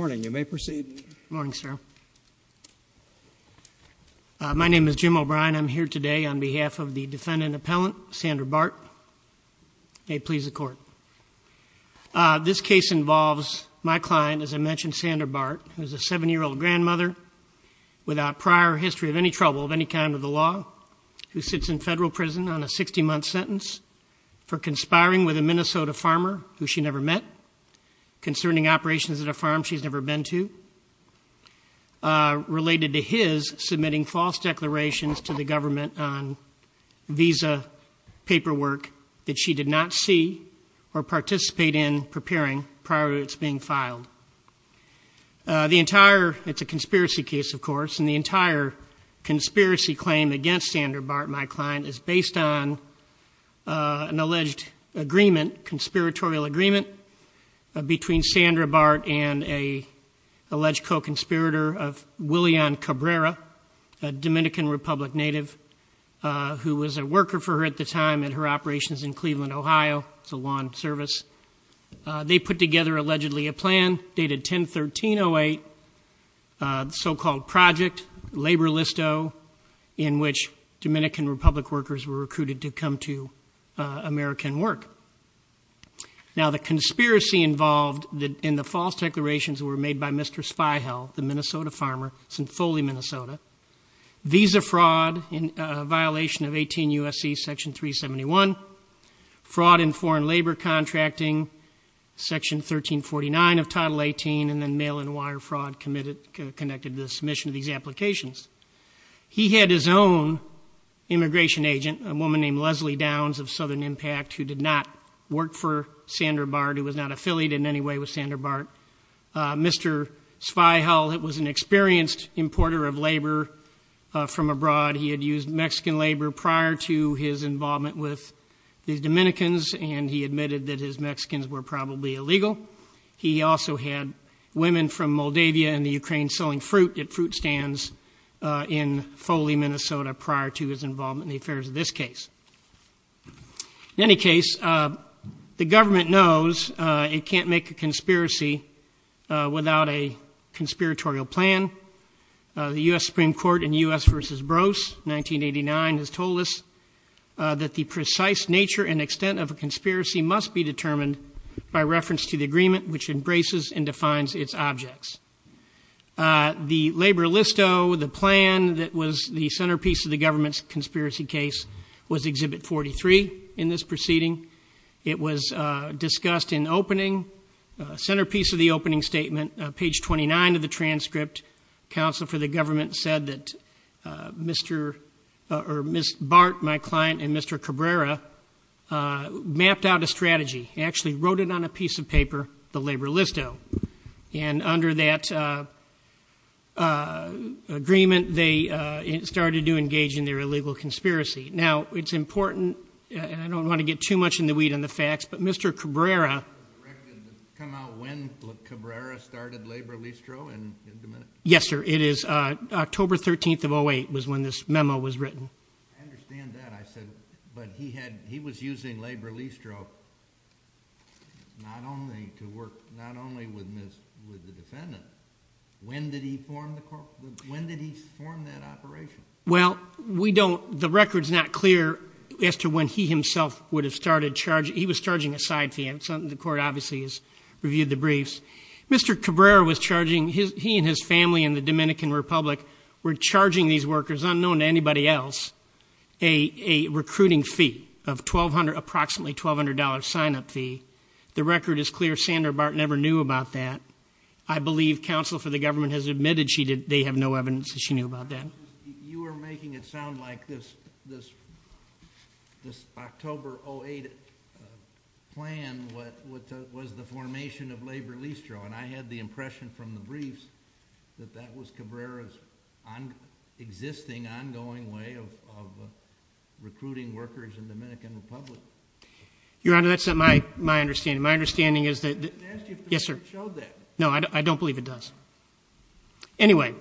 My name is Jim O'Brien. I'm here today on behalf of the defendant appellant, Sandra Bart. May it please the court. This case involves my client, as I mentioned, Sandra Bart, who is a seven-year-old grandmother without prior history of any trouble of any kind of the hiring with a Minnesota farmer who she never met, concerning operations at a farm she's never been to, related to his submitting false declarations to the government on visa paperwork that she did not see or participate in preparing prior to its being filed. The entire, it's a conspiracy case, of course, and the entire conspiracy claim against Sandra Bart, my client, is based on an alleged agreement, conspiratorial agreement, between Sandra Bart and an alleged co-conspirator of Willian Cabrera, a Dominican Republic native, who was a worker for her at the time and her operations in Cleveland, Ohio. It's a lawn service. They put together allegedly a plan dated 10-13-08, the so-called project, Labor Listo, in which Dominican Republic workers were recruited to come to American work. Now, the conspiracy involved in the false declarations were made by Mr. Spiegel, the Minnesota farmer, St. Foley, Minnesota. Visa fraud in violation of 18 U.S.C. Section 371, fraud in foreign labor contracting, Section 1349 of Title 18, and then mail and wire fraud connected to the submission of these applications. He had his own immigration agent, a woman named Leslie Downs of Southern Impact, who did not work for Sandra Bart, who was not affiliated in any way with Sandra Bart. Mr. Spiegel was an experienced importer of labor from abroad. He had used Mexican labor prior to his involvement with the Dominicans, and he admitted that his Mexicans were probably illegal. He also had women from Moldavia and the Ukraine selling fruit at fruit stands in Foley, Minnesota, prior to his involvement in the affairs of this case. In any case, the government knows it can't make a conspiracy without a conspiratorial plan. The U.S. Supreme Court in U.S. v. Brose, 1989, has told us that the precise nature and extent of a conspiracy must be determined by reference to the agreement which embraces and defines its objects. The labor listo, the plan that was the centerpiece of the government's conspiracy case, was Exhibit 43 in this proceeding. It was discussed in opening, centerpiece of the opening statement, page 29 of the transcript. Counsel for the government said that Mr. or Ms. Bart, my client, and Mr. Cabrera mapped out a strategy. He actually wrote it on a piece of paper, the labor listo. And under that agreement, they started to engage in their illegal conspiracy. Now, it's important, and I don't want to get too much in the weed on the facts, but Mr. Cabrera... Can you come out when Cabrera started labor listo? Yes, sir. It is October 13th of 08 was when this memo was written. I understand that, I said, but he had, he was using labor listo not only to work, not only with Ms., with the defendant. When did he form the, when did he form that operation? Well, we don't, the record's not clear as to when he himself would have started charging, he was charging a side fee, and the court obviously has reviewed the briefs. Mr. Cabrera was charging his, he and his family in the Dominican Republic were charging these workers, it was unknown to anybody else, a recruiting fee of approximately $1,200 sign-up fee. The record is clear, Sandra Barton never knew about that. I believe counsel for the government has admitted she did, they have no evidence that she knew about that. You are making it sound like this October 08 plan was the formation of labor listo, and I had the impression from the briefs that that was Cabrera's on, existing, ongoing way of recruiting workers in Dominican Republic. Your Honor, that's not my, my understanding. My understanding is that, yes, sir, no, I don't believe it does. Anyway,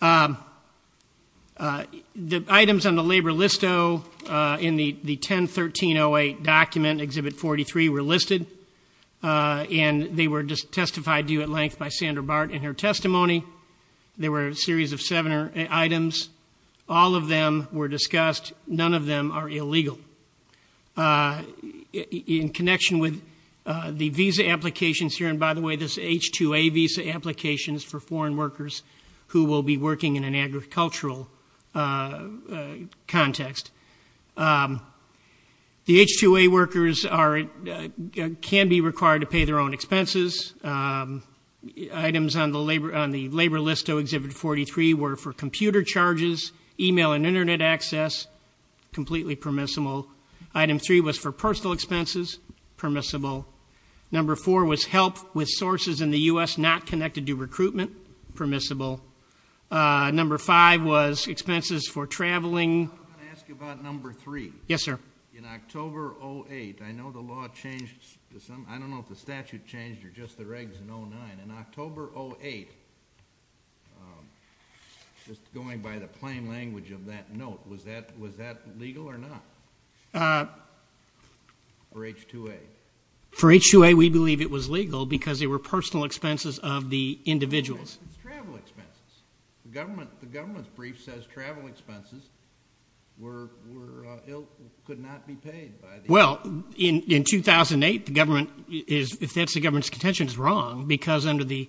the items on the labor listo in the 10-1308 document, Exhibit 43, were listed, and they were just testified to you at length by Sandra Barton in her testimony. There were a series of seven items, all of them were discussed, none of them are illegal. In connection with the visa applications here, and by the way, this H-2A visa application is for foreign workers who will be working in an agricultural context. The H-2A workers are, can be required to pay their own expenses. Items on the labor, on the labor listo, Exhibit 43, were for computer charges, email and internet access, completely permissible. Item 3 was for personal expenses, permissible. Number 4 was help with sources in the U.S. not connected to recruitment, permissible. Number 5 was expenses for traveling. I want to ask you about number 3. Yes, sir. In October, 08, I know the law changed, I don't know if the statute changed or just the regs in 09, in October, 08, just going by the plain language of that note, was that legal or not? For H-2A? For H-2A, we believe it was legal because they were personal expenses of the individuals. Travel expenses. The government's brief says travel expenses were, could not be paid by the... Well, in 2008, the government is, if that's the government's contention, is wrong because under the,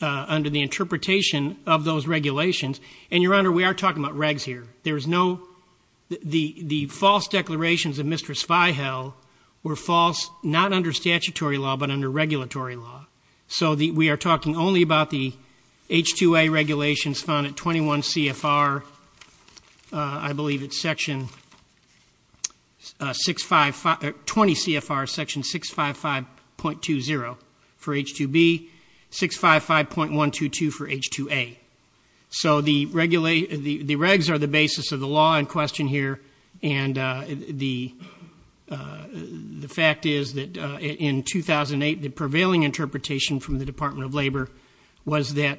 under the interpretation of those regulations, and Your Honor, we are talking about regs here. There is no, the false declarations of Mistress Fihel were false, not under statutory law, but under regulatory law. So we are talking only about the H-2A regulations found at 21 CFR, I believe it's section 655, 20 CFR section 655.20 for H-2B, 655.122 for H-2A. So the regulate, the regs are the basis of the law in question here, and the fact is that in 2008, the prevailing interpretation from the Department of Labor was that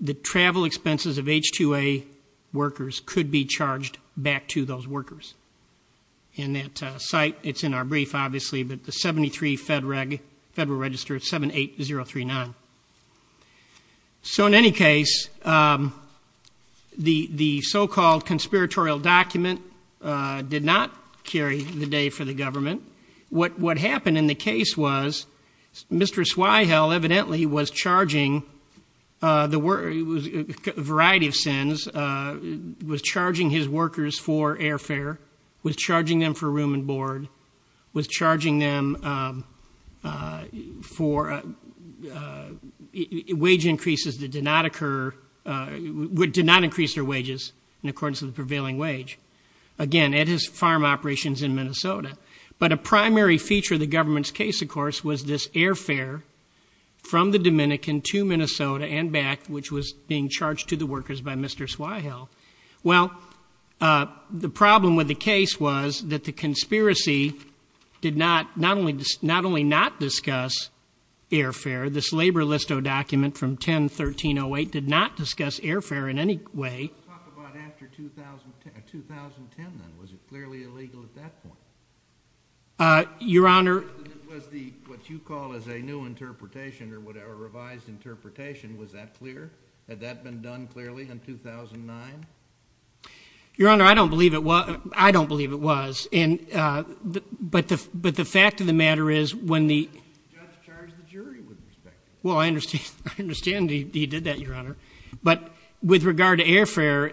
the travel expenses of H-2A workers could be charged back to those workers. And that site, it's in our brief, obviously, but the 73 Federal Reg, Federal Register 78039. So in any case, the, the so-called conspiratorial document did not carry the day for the government. What, what happened in the case was Mistress Fihel evidently was charging the wor, variety of sins, was charging his workers for airfare, was charging them for room and board, was charging them for wage increases that did not occur, did not increase their wages in accordance to the prevailing wage. Again, at his farm operations in Minnesota. But a primary feature of the government's case, of course, was this airfare from the Dominican to Minnesota and back, which was being charged to the workers by Mistress Fihel. Well, the problem with the case was that the conspiracy did not, not only, not only not discuss airfare, this Labor Listo document from 10-1308 did not discuss airfare in any way. Your Honor. Was the, what you call as a new airfare, had that been done clearly in 2009? Your Honor, I don't believe it was, I don't believe it was. And, but the, but the fact of the matter is when the. Judge charged the jury with respect. Well, I understand, I understand he did that, Your Honor. But with regard to airfare.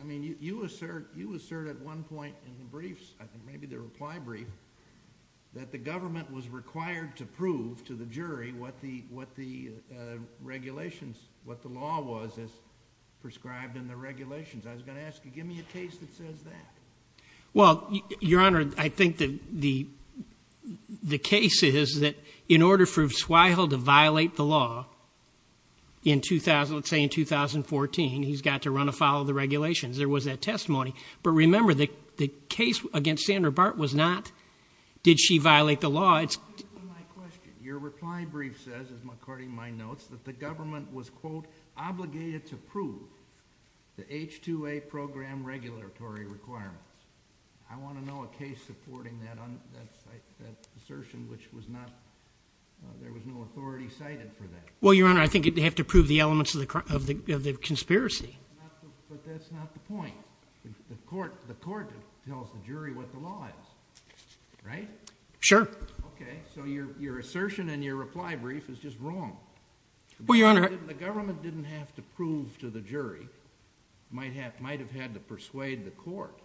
I mean, you assert, you assert at one point in the briefs, I think maybe the reply brief, that the government was required to prove to the jury what the, what the regulations, what the law was as prescribed in the regulations. I was going to ask you, give me a case that says that. Well, Your Honor, I think that the, the case is that in order for Fihel to violate the law in 2000, let's say in 2014, he's got to run afoul of the regulations. There was that testimony. But remember that the case against Sandra Bart was not, did she violate the law? Your reply brief says, according to my notes, that the government was, quote, obligated to prove the H-2A program regulatory requirements. I want to know a case supporting that assertion, which was not, there was no authority cited for that. Well, Your Honor, I think you'd have to prove the elements of the conspiracy. But that's not the point. The court, the court tells the jury what the law is, right? Sure. Okay, so your, your assertion and your reply brief is just wrong. Well, Your Honor. The government didn't have to prove to the jury. Might have, might have had to persuade the court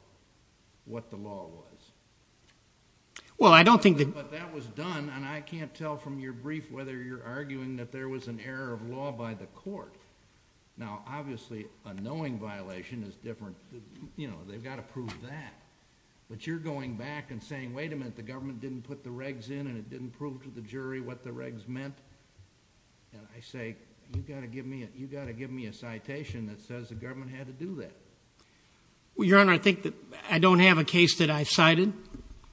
what the law was. Well, I don't think that. But that was done, and I can't tell from your brief whether you're arguing that there was an error of law by the court. Now, obviously, a knowing violation is different than, you know, they've got to prove that. But you're going back and saying, wait a minute, the government didn't put the regs in, and it didn't prove to the jury what the regs meant. And I say, you've got to give me, you've got to give me a citation that says the government had to do that. Well, Your Honor, I think that I don't have a case that I've cited.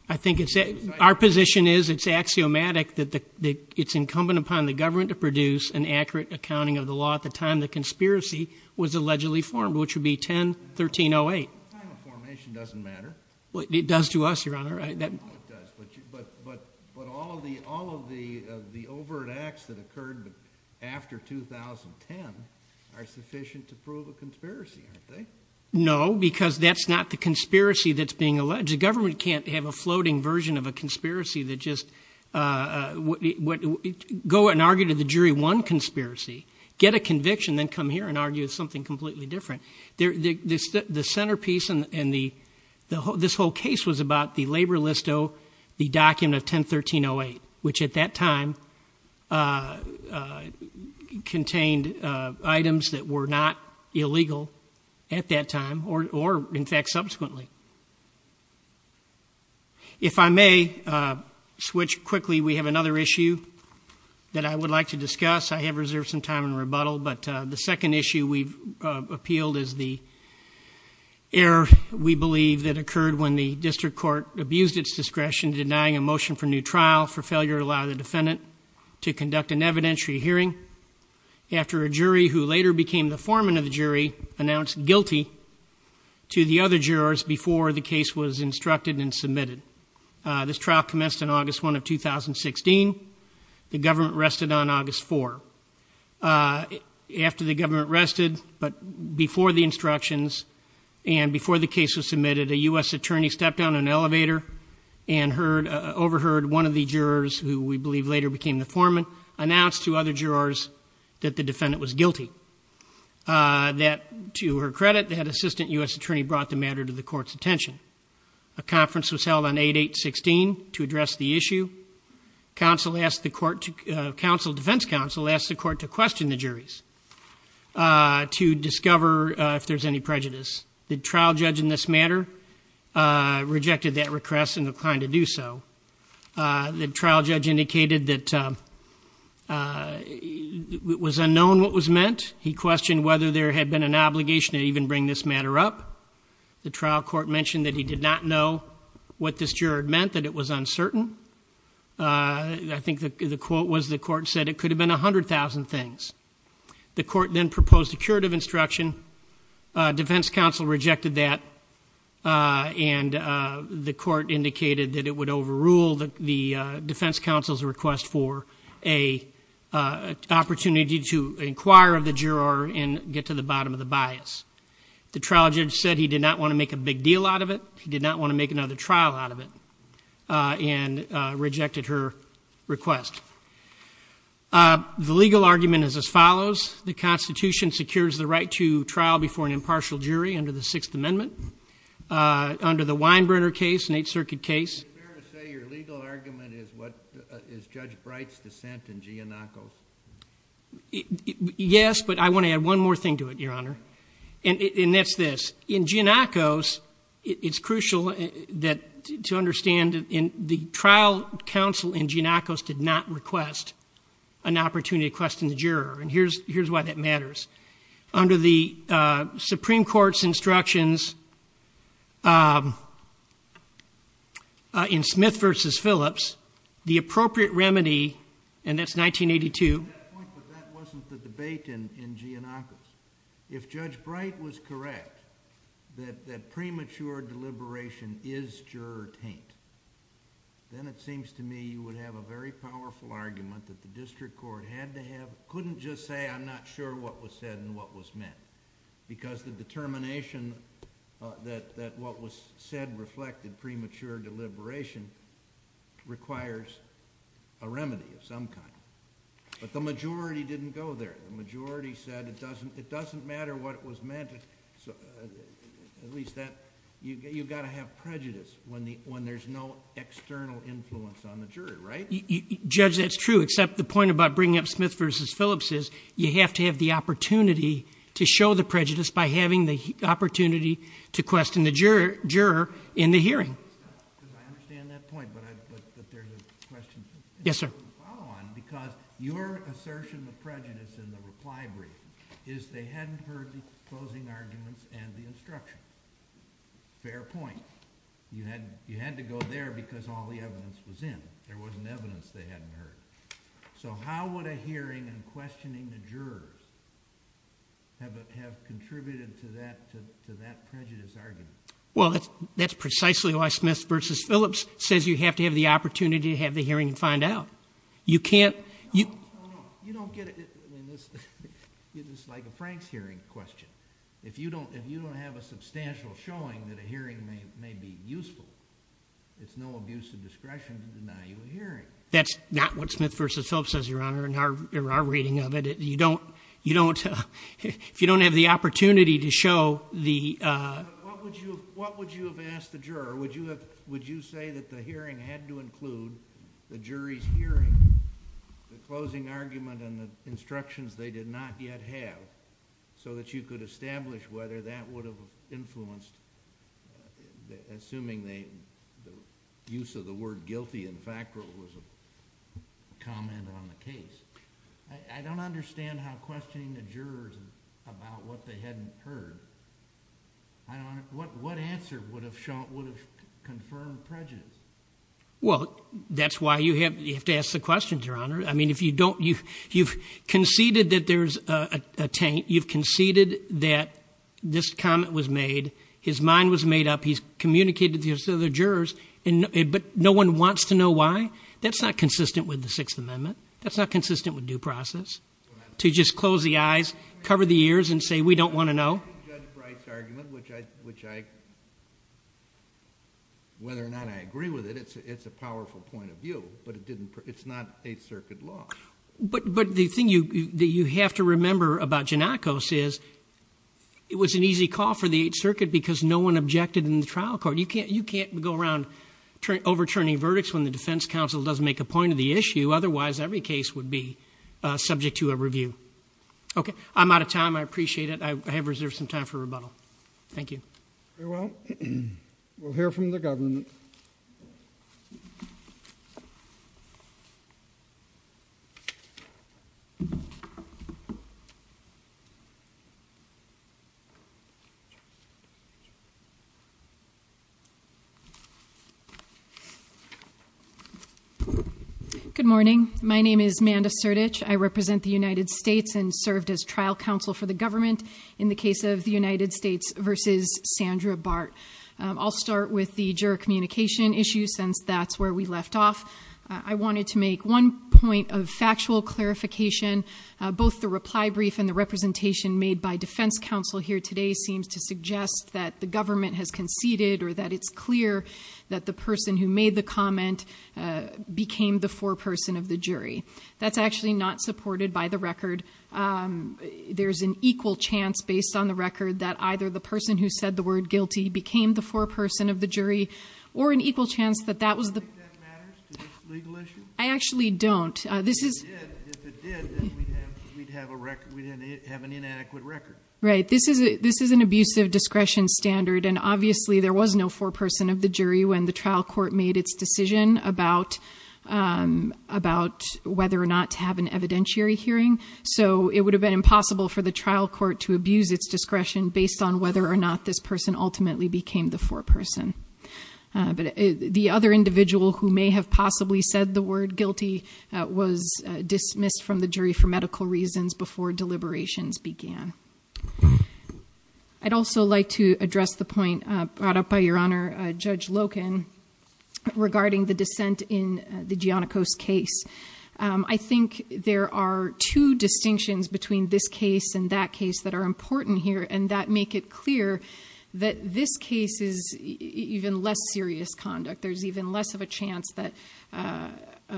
I think it's, our position is it's axiomatic that the, it's incumbent upon the government to produce an accurate accounting of the law at the time the conspiracy was allegedly formed, which would be 10-1308. Well, the time of formation doesn't matter. Well, it does to us, Your Honor. No, it does. But all of the overt acts that occurred after 2010 are sufficient to prove a conspiracy, aren't they? No, because that's not the conspiracy that's being alleged. The government can't have a floating version of a conspiracy that just, go and argue to the jury one conspiracy, get a conviction, then come here and argue something completely different. The centerpiece in the, this whole case was about the labor list O, the document of 10-1308, which at that time contained items that were not illegal at that time, or in fact, subsequently. If I may switch quickly, we have another issue that I would like to discuss. I have reserved some time in rebuttal, but the second issue we've appealed is the error, we believe, that occurred when the district court abused its discretion denying a motion for new trial for failure to allow the defendant to conduct an evidentiary hearing. After a jury, who later became the foreman of the jury, announced guilty to the other jurors before the case was instructed and submitted. This trial commenced on August 1 of 2016. The government rested on August 4. After the government rested, but before the instructions, and before the case was submitted, a U.S. attorney stepped down an elevator and overheard one of the jurors, who we believe later became the foreman, announce to other jurors that the defendant was guilty. Counsel, to her credit, that assistant U.S. attorney brought the matter to the court's attention. A conference was held on 8-8-16 to address the issue. Counsel, defense counsel, asked the court to question the juries to discover if there's any prejudice. The trial judge in this matter rejected that request and declined to do so. The trial judge indicated that it was unknown what was meant. He questioned whether there had been an obligation to even bring this matter up. The trial court mentioned that he did not know what this juror meant, that it was uncertain. I think the quote was the court said it could have been 100,000 things. The court then proposed a curative instruction. Defense counsel rejected that and the court indicated that it would overrule the defense counsel's request for an opportunity to inquire of the juror and get to the bottom of the bias. The trial judge said he did not want to make a big deal out of it. He did not want to make another trial out of it and rejected her request. The legal argument is as follows. The Constitution secures the right to trial before an impartial jury under the Sixth Amendment, under the Weinbrenner case, an Eighth Circuit case. Is it fair to say your legal argument is Judge Bright's dissent in Giannakos? Yes, but I want to add one more thing to it, Your Honor, and that's this. In Giannakos, it's crucial to understand that the trial counsel in Giannakos did not request an opportunity to question the juror. And here's why that matters. Under the Supreme Court's instructions in Smith v. Phillips, the appropriate remedy, and that's 1982. I agree with that point, but that wasn't the debate in Giannakos. If Judge Bright was correct that premature deliberation is juror taint, then it seems to me you would have a very powerful argument that the district court had to have... The majority didn't go there. The majority said it doesn't matter what it was meant. You've got to have prejudice when there's no external influence on the juror, right? Judge, that's true, except the point about bringing up Smith v. Phillips is you have to have the opportunity to show the prejudice by having the opportunity to question the juror in the hearing. I understand that point, but there's a question to follow on because your assertion of prejudice in the reply brief is they hadn't heard the closing arguments and the instruction. Fair point. You had to go there because all the evidence was in. There wasn't evidence they hadn't heard. So how would a hearing and questioning the jurors have contributed to that prejudice argument? Well, that's precisely why Smith v. Phillips says you have to have the opportunity to have the hearing and find out. No, no. You don't get it. It's like a Franks hearing question. If you don't have a substantial showing that a hearing may be useful, it's no abuse of discretion to deny you a hearing. That's not what Smith v. Phillips says, Your Honor, in our reading of it. If you don't have the opportunity to show the... But what would you have asked the juror? Would you say that the hearing had to include the jury's hearing, the closing argument, and the instructions they did not yet have, so that you could establish whether that would have influenced... assuming the use of the word guilty and factual was a comment on the case. I don't understand how questioning the jurors about what they hadn't heard... What answer would have confirmed prejudice? Well, that's why you have to ask the questions, Your Honor. I mean, if you don't... you've conceded that there's a taint. You've conceded that this comment was made. His mind was made up. He's communicated to the other jurors, but no one wants to know why. That's not consistent with the Sixth Amendment. That's not consistent with due process, to just close the eyes, cover the ears, and say, we don't want to know. Judge Bright's argument, which I... whether or not I agree with it, it's a powerful point of view, but it's not Eighth Circuit law. But the thing that you have to remember about Giannakos is, it was an easy call for the Eighth Circuit because no one objected in the trial court. You can't go around overturning verdicts when the defense counsel doesn't make a point of the issue. Otherwise, every case would be subject to a review. Okay. I'm out of time. I appreciate it. I have reserved some time for rebuttal. Thank you. Very well. We'll hear from the government. Good morning. My name is Manda Sertich. I represent the United States and served as trial counsel for the government in the case of the United States v. Sandra Bart. I'll start with the juror communication issue, since that's where we left off. I wanted to make one point of factual clarification. Both the reply brief and the representation made by defense counsel here today seems to suggest that the government has conceded, or that it's clear that the person who made the comment became the foreperson of the jury. That's actually not supported by the record. There's an equal chance, based on the record, that either the person who said the word guilty became the foreperson of the jury, or an equal chance that that was the- Do you think that matters to this legal issue? I actually don't. If it did, then we'd have an inadequate record. Right. This is an abusive discretion standard, and obviously there was no foreperson of the jury when the trial court made its decision about whether or not to have an evidentiary hearing. So it would have been impossible for the trial court to abuse its discretion based on whether or not this person ultimately became the foreperson. But the other individual who may have possibly said the word guilty was dismissed from the jury for medical reasons before deliberations began. I'd also like to address the point brought up by Your Honor, Judge Loken, regarding the dissent in the Giannikos case. I think there are two distinctions between this case and that case that are important here, and that make it clear that this case is even less serious conduct. There's even less of a chance that an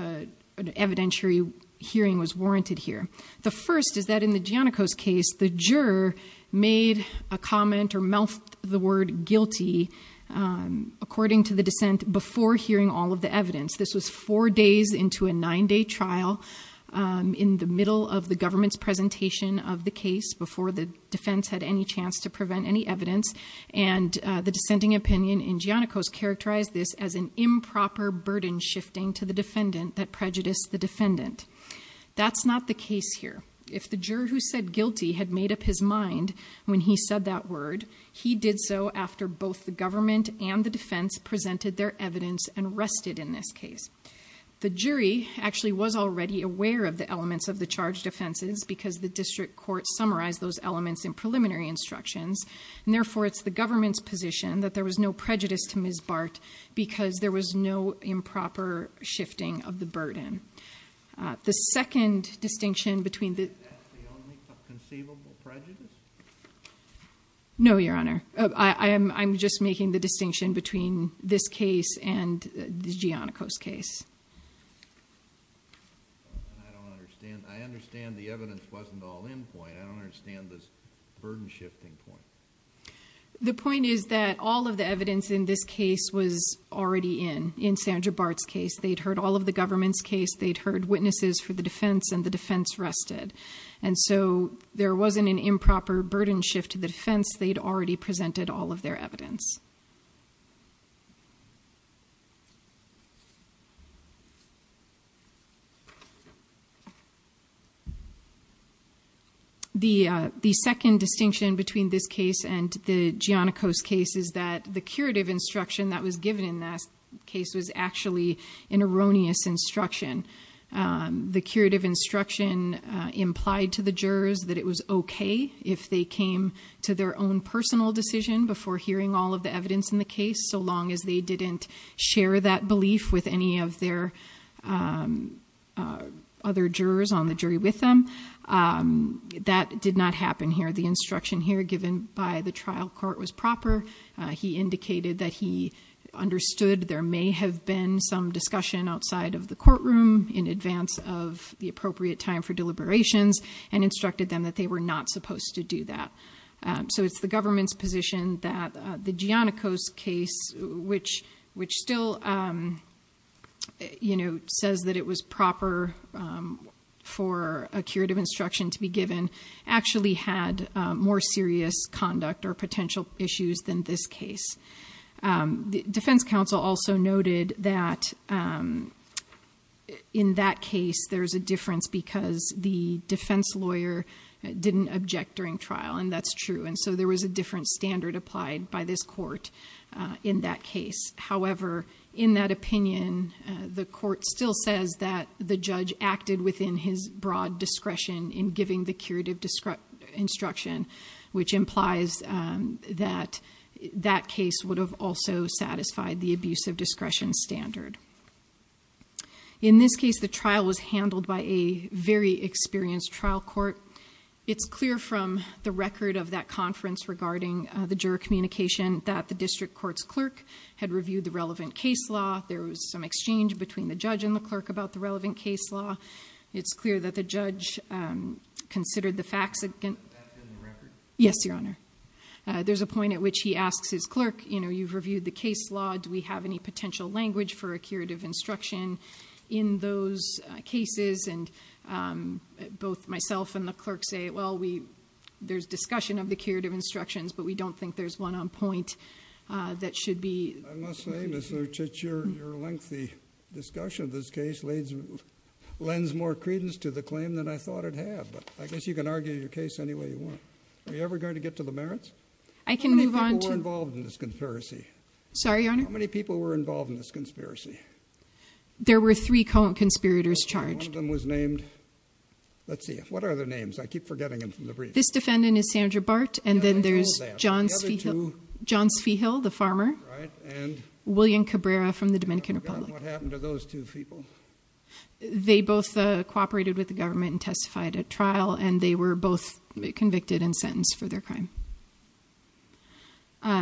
evidentiary hearing was warranted here. The first is that in the Giannikos case, the juror made a comment or mouthed the word guilty, according to the dissent, before hearing all of the evidence. This was four days into a nine-day trial in the middle of the government's presentation of the case before the defense had any chance to prevent any evidence. And the dissenting opinion in Giannikos characterized this as an improper burden shifting to the defendant that prejudiced the defendant. That's not the case here. If the juror who said guilty had made up his mind when he said that word, he did so after both the government and the defense presented their evidence and rested in this case. The jury actually was already aware of the elements of the charged offenses because the district court summarized those elements in preliminary instructions, and therefore it's the government's position that there was no prejudice to Ms. Bart because there was no improper shifting of the burden. The second distinction between the... Is that the only conceivable prejudice? No, Your Honor. I'm just making the distinction between this case and the Giannikos case. I don't understand. I understand the evidence wasn't all in point. I don't understand this burden shifting point. The point is that all of the evidence in this case was already in, in Sandra Bart's case. They'd heard all of the government's case. They'd heard witnesses for the defense, and the defense rested. And so there wasn't an improper burden shift to the defense. They'd already presented all of their evidence. The second distinction between this case and the Giannikos case is that the curative instruction that was given in that case was actually an erroneous instruction. The curative instruction implied to the jurors that it was okay if they came to their own personal decision before hearing all of the evidence in the case, so long as they didn't share that belief with any of their other jurors on the jury with them. That did not happen here. The instruction here given by the trial court was proper. He indicated that he understood there may have been some discussion outside of the courtroom in advance of the appropriate time for deliberations, and instructed them that they were not supposed to do that. So it's the government's position that the Giannikos case, which still, you know, The defense counsel also noted that in that case there's a difference because the defense lawyer didn't object during trial, and that's true. And so there was a different standard applied by this court in that case. However, in that opinion, the court still says that the judge acted within his broad discretion in giving the curative instruction, which implies that that case would have also satisfied the abuse of discretion standard. In this case, the trial was handled by a very experienced trial court. It's clear from the record of that conference regarding the juror communication that the district court's clerk had reviewed the relevant case law. There was some exchange between the judge and the clerk about the relevant case law. It's clear that the judge considered the facts. Yes, Your Honor. There's a point at which he asks his clerk, you know, you've reviewed the case law. Do we have any potential language for a curative instruction in those cases? And both myself and the clerk say, well, we there's discussion of the curative instructions, but we don't think there's one on point that should be. I must say, Mr. Chich, your lengthy discussion of this case lends more credence to the claim than I thought it had. I guess you can argue your case any way you want. Are you ever going to get to the merits? I can move on to. How many people were involved in this conspiracy? Sorry, Your Honor. How many people were involved in this conspiracy? There were three conspirators charged. One of them was named. Let's see. What are their names? I keep forgetting them from the brief. This defendant is Sandra Bart, and then there's John Spiegel, the farmer. Right. And? William Cabrera from the Dominican Republic. I forgot what happened to those two people. They both cooperated with the government and testified at trial, and they were both convicted and sentenced for their crime. They pled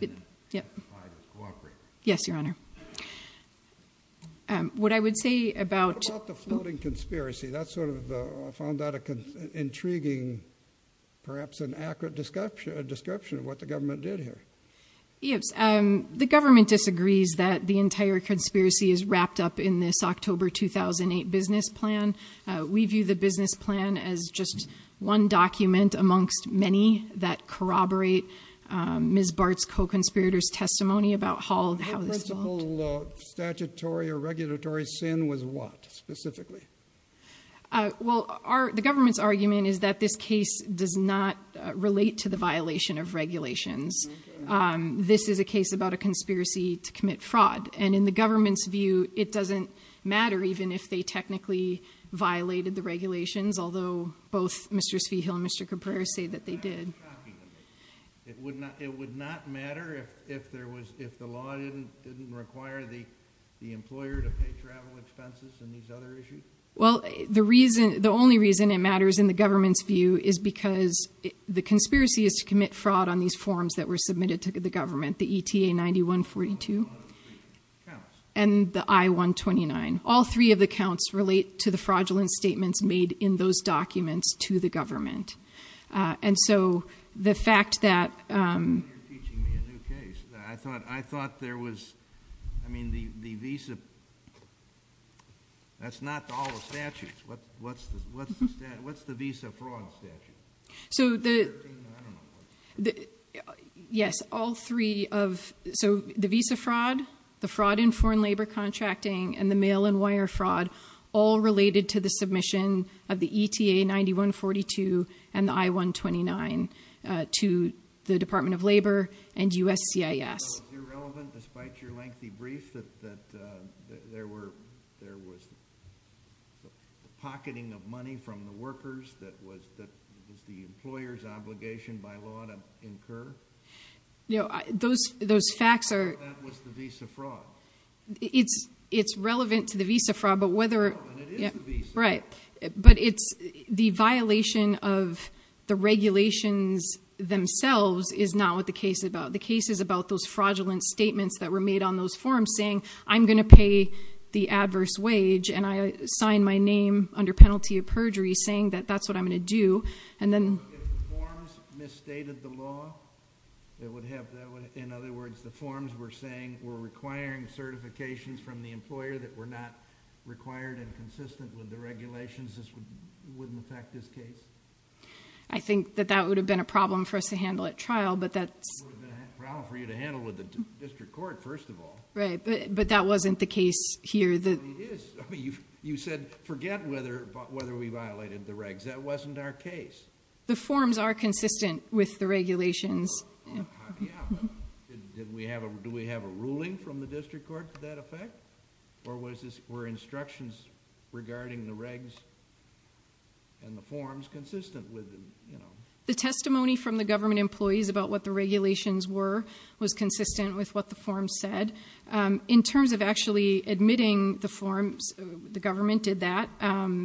and testified to cooperate. Yes, Your Honor. What I would say about... What about the floating conspiracy? That sort of found out an intriguing, perhaps an accurate description of what the government did here. Yes. The government disagrees that the entire conspiracy is wrapped up in this October 2008 business plan. We view the business plan as just one document amongst many that corroborate Ms. Bart's co-conspirator's testimony about how this all... Well, the government's argument is that this case does not relate to the violation of regulations. This is a case about a conspiracy to commit fraud. And in the government's view, it doesn't matter even if they technically violated the regulations, although both Mr. Spiegel and Mr. Cabrera say that they did. It would not matter if the law didn't require the employer to pay travel expenses and these other issues? Well, the only reason it matters in the government's view is because the conspiracy is to commit fraud on these forms that were submitted to the government, the ETA-9142 and the I-129. All three of the counts relate to the fraudulent statements made in those documents to the government. And so the fact that... You're teaching me a new case. I thought there was... I mean, the visa... That's not all the statutes. What's the visa fraud statute? So the... I don't know. So it's irrelevant, despite your lengthy brief, that there was pocketing of money from the workers that was the employer's obligation by law to incur? No, those facts are... That was the visa fraud. It's relevant to the visa fraud, but whether... It is the visa fraud. Right. But it's... The violation of the regulations themselves is not what the case is about. The case is about those fraudulent statements that were made on those forms saying, I'm going to pay the adverse wage, and I sign my name under penalty of perjury saying that that's what I'm going to do. And then... This wouldn't affect this case? I think that that would have been a problem for us to handle at trial, but that's... It would have been a problem for you to handle with the district court, first of all. Right, but that wasn't the case here. No, it is. I mean, you said forget whether we violated the regs. That wasn't our case. The forms are consistent with the regulations. Yeah, but did we have a... Do we have a ruling from the district court to that effect? Or were instructions regarding the regs and the forms consistent with them? The testimony from the government employees about what the regulations were was consistent with what the forms said. In terms of actually admitting the forms, the government did that.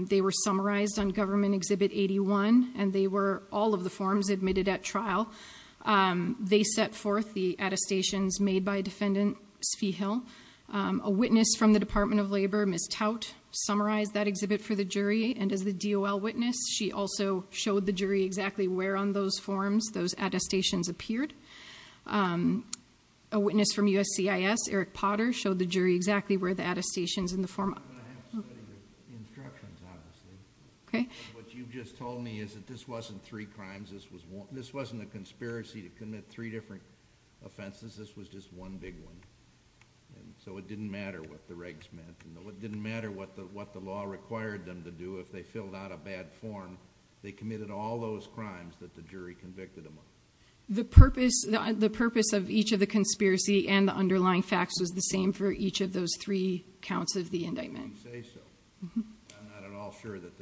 They were summarized on Government Exhibit 81, and they were all of the forms admitted at trial. They set forth the attestations made by Defendant Spiegel. A witness from the Department of Labor, Ms. Tout, summarized that exhibit for the jury. And as the DOL witness, she also showed the jury exactly where on those forms those attestations appeared. A witness from USCIS, Eric Potter, showed the jury exactly where the attestations in the form... I'm going to have to study the instructions, obviously. Okay. What you just told me is that this wasn't three crimes. This wasn't a conspiracy to commit three different offenses. This was just one big one. So it didn't matter what the regs meant. It didn't matter what the law required them to do if they filled out a bad form. They committed all those crimes that the jury convicted them of. The purpose of each of the conspiracy and the underlying facts was the same for each of those three counts of the indictment. I'm not at all sure that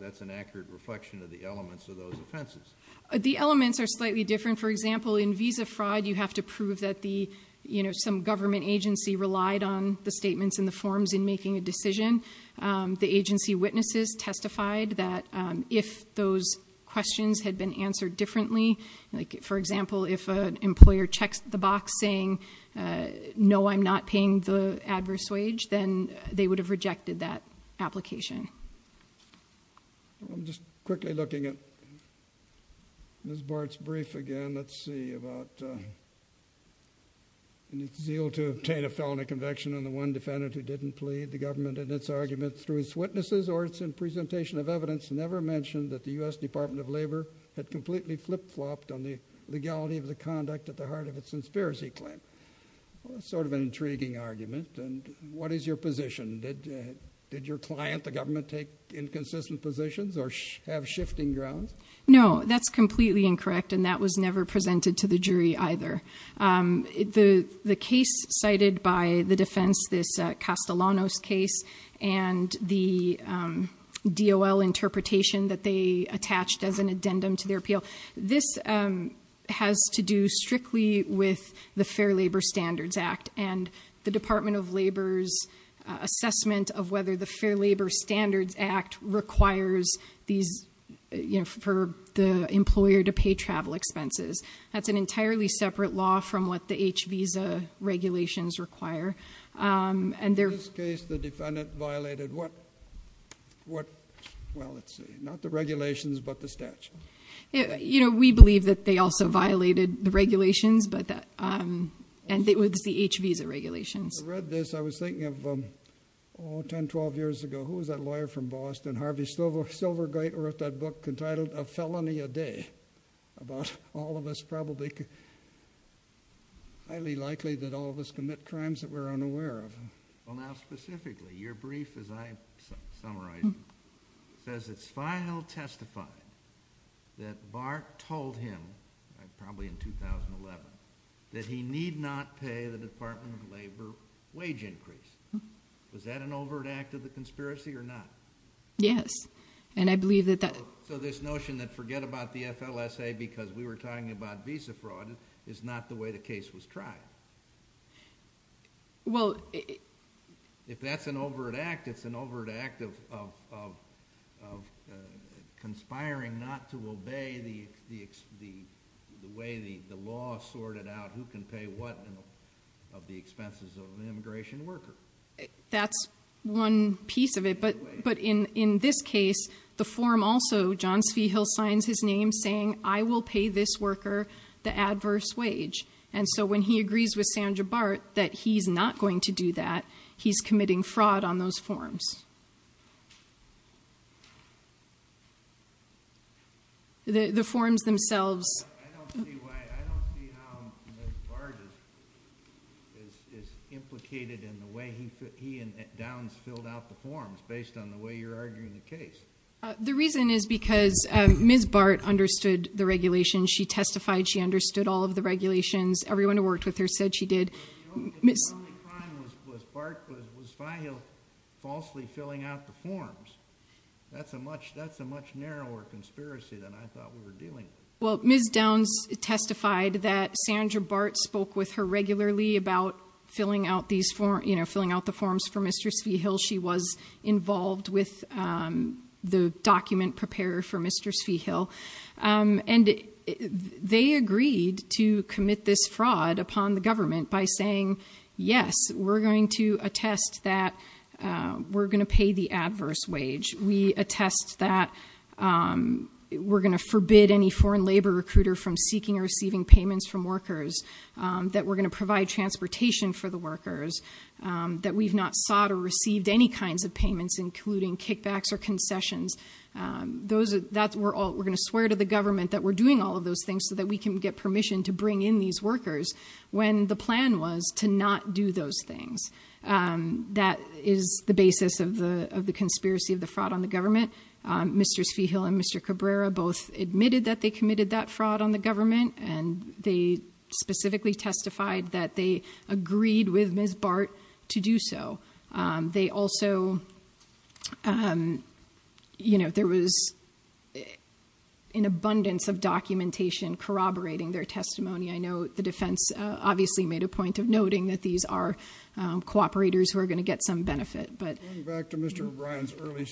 that's an accurate reflection of the elements of those offenses. The elements are slightly different. For example, in visa fraud, you have to prove that some government agency relied on the statements in the forms in making a decision. The agency witnesses testified that if those questions had been answered differently... they would have rejected that application. I'm just quickly looking at Ms. Bart's brief again. Let's see. It's zeal to obtain a felony conviction on the one defendant who didn't plead. The government, in its arguments through its witnesses or its presentation of evidence, never mentioned that the U.S. Department of Labor had completely flip-flopped on the legality of the conduct at the heart of its conspiracy claim. Sort of an intriguing argument. What is your position? Did your client, the government, take inconsistent positions or have shifting grounds? No, that's completely incorrect, and that was never presented to the jury either. The case cited by the defense, this Castellanos case, and the DOL interpretation that they attached as an addendum to their appeal, this has to do strictly with the Fair Labor Standards Act and the Department of Labor's assessment of whether the Fair Labor Standards Act requires the employer to pay travel expenses. That's an entirely separate law from what the HVISA regulations require. In this case, the defendant violated what?.. The regulations, but the statute. We believe that they also violated the regulations, and it was the HVISA regulations. I read this, I was thinking of, oh, 10, 12 years ago, who was that lawyer from Boston, Harvey Silvergate, who wrote that book entitled A Felony a Day, about all of us probably highly likely that all of us commit crimes that we're unaware of. Well, now, specifically, your brief, as I summarized it, says it's final testifying that Bart told him, probably in 2011, that he need not pay the Department of Labor wage increase. Was that an overt act of the conspiracy or not? Yes, and I believe that that... So this notion that forget about the FLSA because we were talking about HVISA fraud is not the way the case was tried. Well... If that's an overt act, it's an overt act of conspiring not to obey the way the law sorted out who can pay what of the expenses of an immigration worker. That's one piece of it, but in this case, the form also, John Spiegel signs his name saying, I will pay this worker the adverse wage. And so when he agrees with Sandra Bart that he's not going to do that, he's committing fraud on those forms. The forms themselves... I don't see why... I don't see how Ms. Bart is implicated in the way he and Downs filled out the forms, based on the way you're arguing the case. The reason is because Ms. Bart understood the regulation. She testified she understood all of the regulations. Everyone who worked with her said she did. The only crime was Bart was falsely filling out the forms. That's a much narrower conspiracy than I thought we were dealing with. Well, Ms. Downs testified that Sandra Bart spoke with her regularly about filling out the forms for Mr. Spiegel. She was involved with the document preparer for Mr. Spiegel. And they agreed to commit this fraud upon the government by saying, yes, we're going to attest that we're going to pay the adverse wage. We attest that we're going to forbid any foreign labor recruiter from seeking or receiving payments from workers, that we're going to provide transportation for the workers, that we've not sought or received any kinds of payments, including kickbacks or concessions. We're going to swear to the government that we're doing all of those things so that we can get permission to bring in these workers, when the plan was to not do those things. That is the basis of the conspiracy of the fraud on the government. Mr. Spiegel and Mr. Cabrera both admitted that they committed that fraud on the government, and they specifically testified that they agreed with Ms. Bart to do so. They also, you know, there was an abundance of documentation corroborating their testimony. I know the defense obviously made a point of noting that these are cooperators who are going to get some benefit. Going back to Mr. O'Brien's early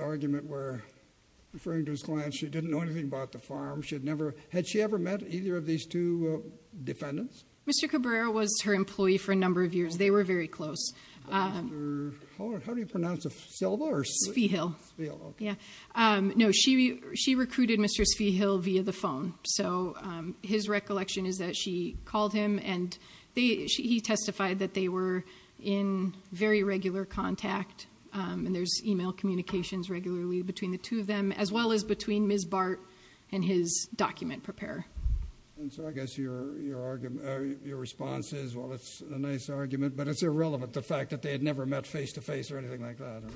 argument where, referring to his client, she didn't know anything about the farm. Had she ever met either of these two defendants? Mr. Cabrera was her employee for a number of years. They were very close. How do you pronounce it, Silva or Spiegel? Spiegel. Yeah. No, she recruited Mr. Spiegel via the phone. So his recollection is that she called him, and he testified that they were in very regular contact, and there's e-mail communications regularly between the two of them, as well as between Ms. Bart and his document preparer. And so I guess your response is, well, it's a nice argument, but it's irrelevant, the fact that they had never met face-to-face or anything like that, right?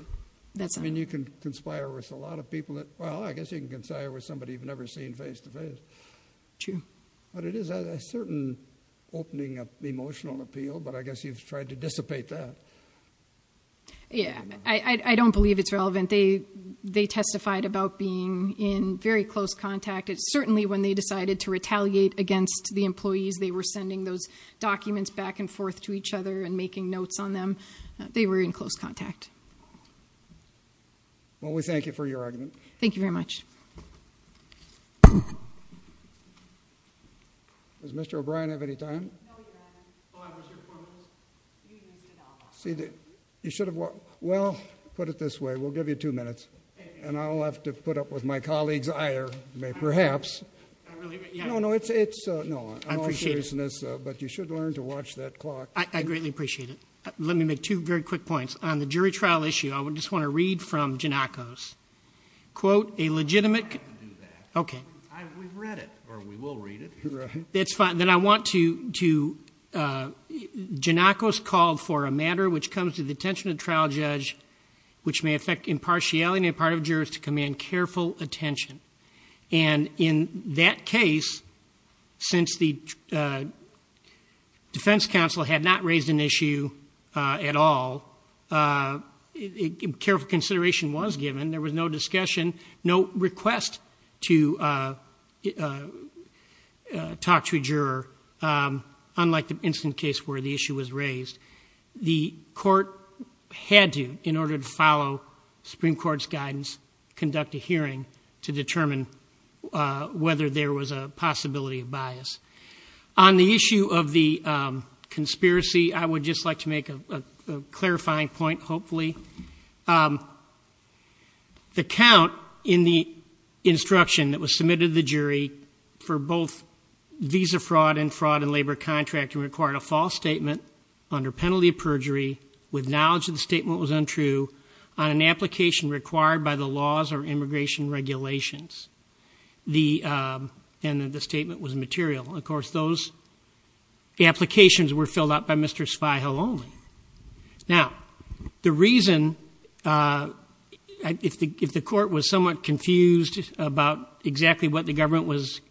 That's right. I mean, you can conspire with a lot of people that, well, I guess you can conspire with somebody you've never seen face-to-face. True. But it is a certain opening of emotional appeal, but I guess you've tried to dissipate that. Yeah. I don't believe it's relevant. They testified about being in very close contact. Certainly when they decided to retaliate against the employees, they were sending those documents back and forth to each other and making notes on them. They were in close contact. Well, we thank you for your argument. Thank you very much. Does Mr. O'Brien have any time? No, he doesn't. Oh, I was here for a moment. You should have walked. Well, put it this way, we'll give you two minutes, and I'll have to put up with my colleague's ire, perhaps. No, no, it's no. I appreciate it. But you should learn to watch that clock. I greatly appreciate it. Let me make two very quick points. On the jury trial issue, I just want to read from Giannakos. I can't do that. Okay. We've read it, or we will read it. Right. That's fine. Then I want to, Giannakos called for a matter which comes to the attention of the trial judge, which may affect impartiality on the part of jurors to command careful attention. And in that case, since the defense counsel had not raised an issue at all, careful consideration was given. There was no discussion, no request to talk to a juror, The court had to, in order to follow Supreme Court's guidance, conduct a hearing to determine whether there was a possibility of bias. On the issue of the conspiracy, I would just like to make a clarifying point, hopefully. The count in the instruction that was submitted to the jury for both visa fraud and fraud in labor contract required a false statement under penalty of perjury, with knowledge that the statement was untrue, on an application required by the laws or immigration regulations. And the statement was immaterial. Of course, those applications were filled out by Mr. Spiegel only. Now, the reason, if the court was somewhat confused about exactly what the government was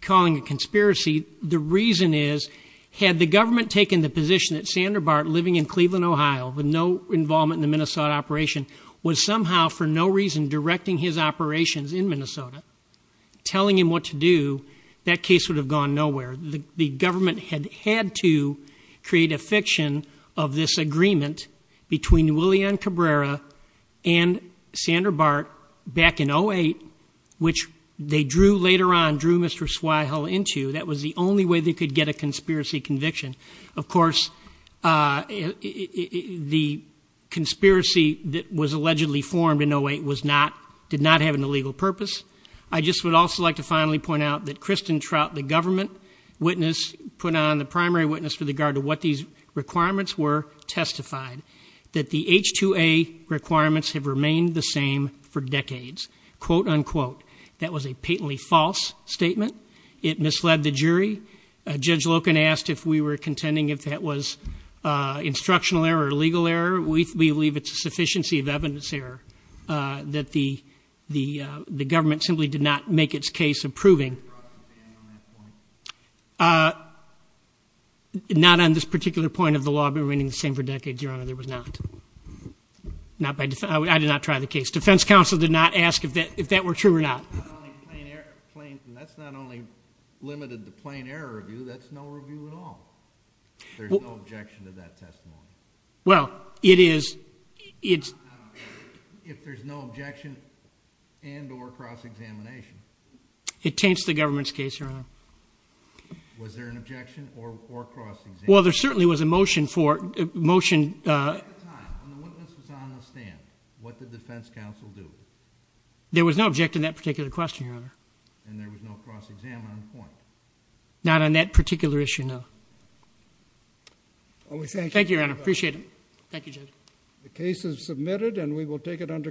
calling a conspiracy, the reason is, had the government taken the position that Sander Bart, living in Cleveland, Ohio, with no involvement in the Minnesota operation, was somehow for no reason directing his operations in Minnesota, telling him what to do, that case would have gone nowhere. The government had had to create a fiction of this agreement between William Cabrera and Sander Bart back in 08, which they later on drew Mr. Spiegel into. That was the only way they could get a conspiracy conviction. Of course, the conspiracy that was allegedly formed in 08 did not have an illegal purpose. I just would also like to finally point out that Kristen Trout, the government witness, put on the primary witness for the guard of what these requirements were, testified that the H-2A requirements have remained the same for decades. Quote, unquote. That was a patently false statement. It misled the jury. Judge Loken asked if we were contending if that was instructional error or legal error. We believe it's a sufficiency of evidence error that the government simply did not make its case approving. Not on this particular point of the law remaining the same for decades, Your Honor, there was not. I did not try the case. Defense counsel did not ask if that were true or not. That's not only limited to plain error review. That's no review at all. There's no objection to that testimony. Well, it is. If there's no objection and or cross-examination. It taints the government's case, Your Honor. Was there an objection or cross-examination? Well, there certainly was a motion for it. At the time, when the witness was on the stand, what did the defense counsel do? There was no objection to that particular question, Your Honor. And there was no cross-examination on the point? Not on that particular issue, no. Thank you, Your Honor. Appreciate it. Thank you, Judge. The case is submitted, and we will take it under consideration.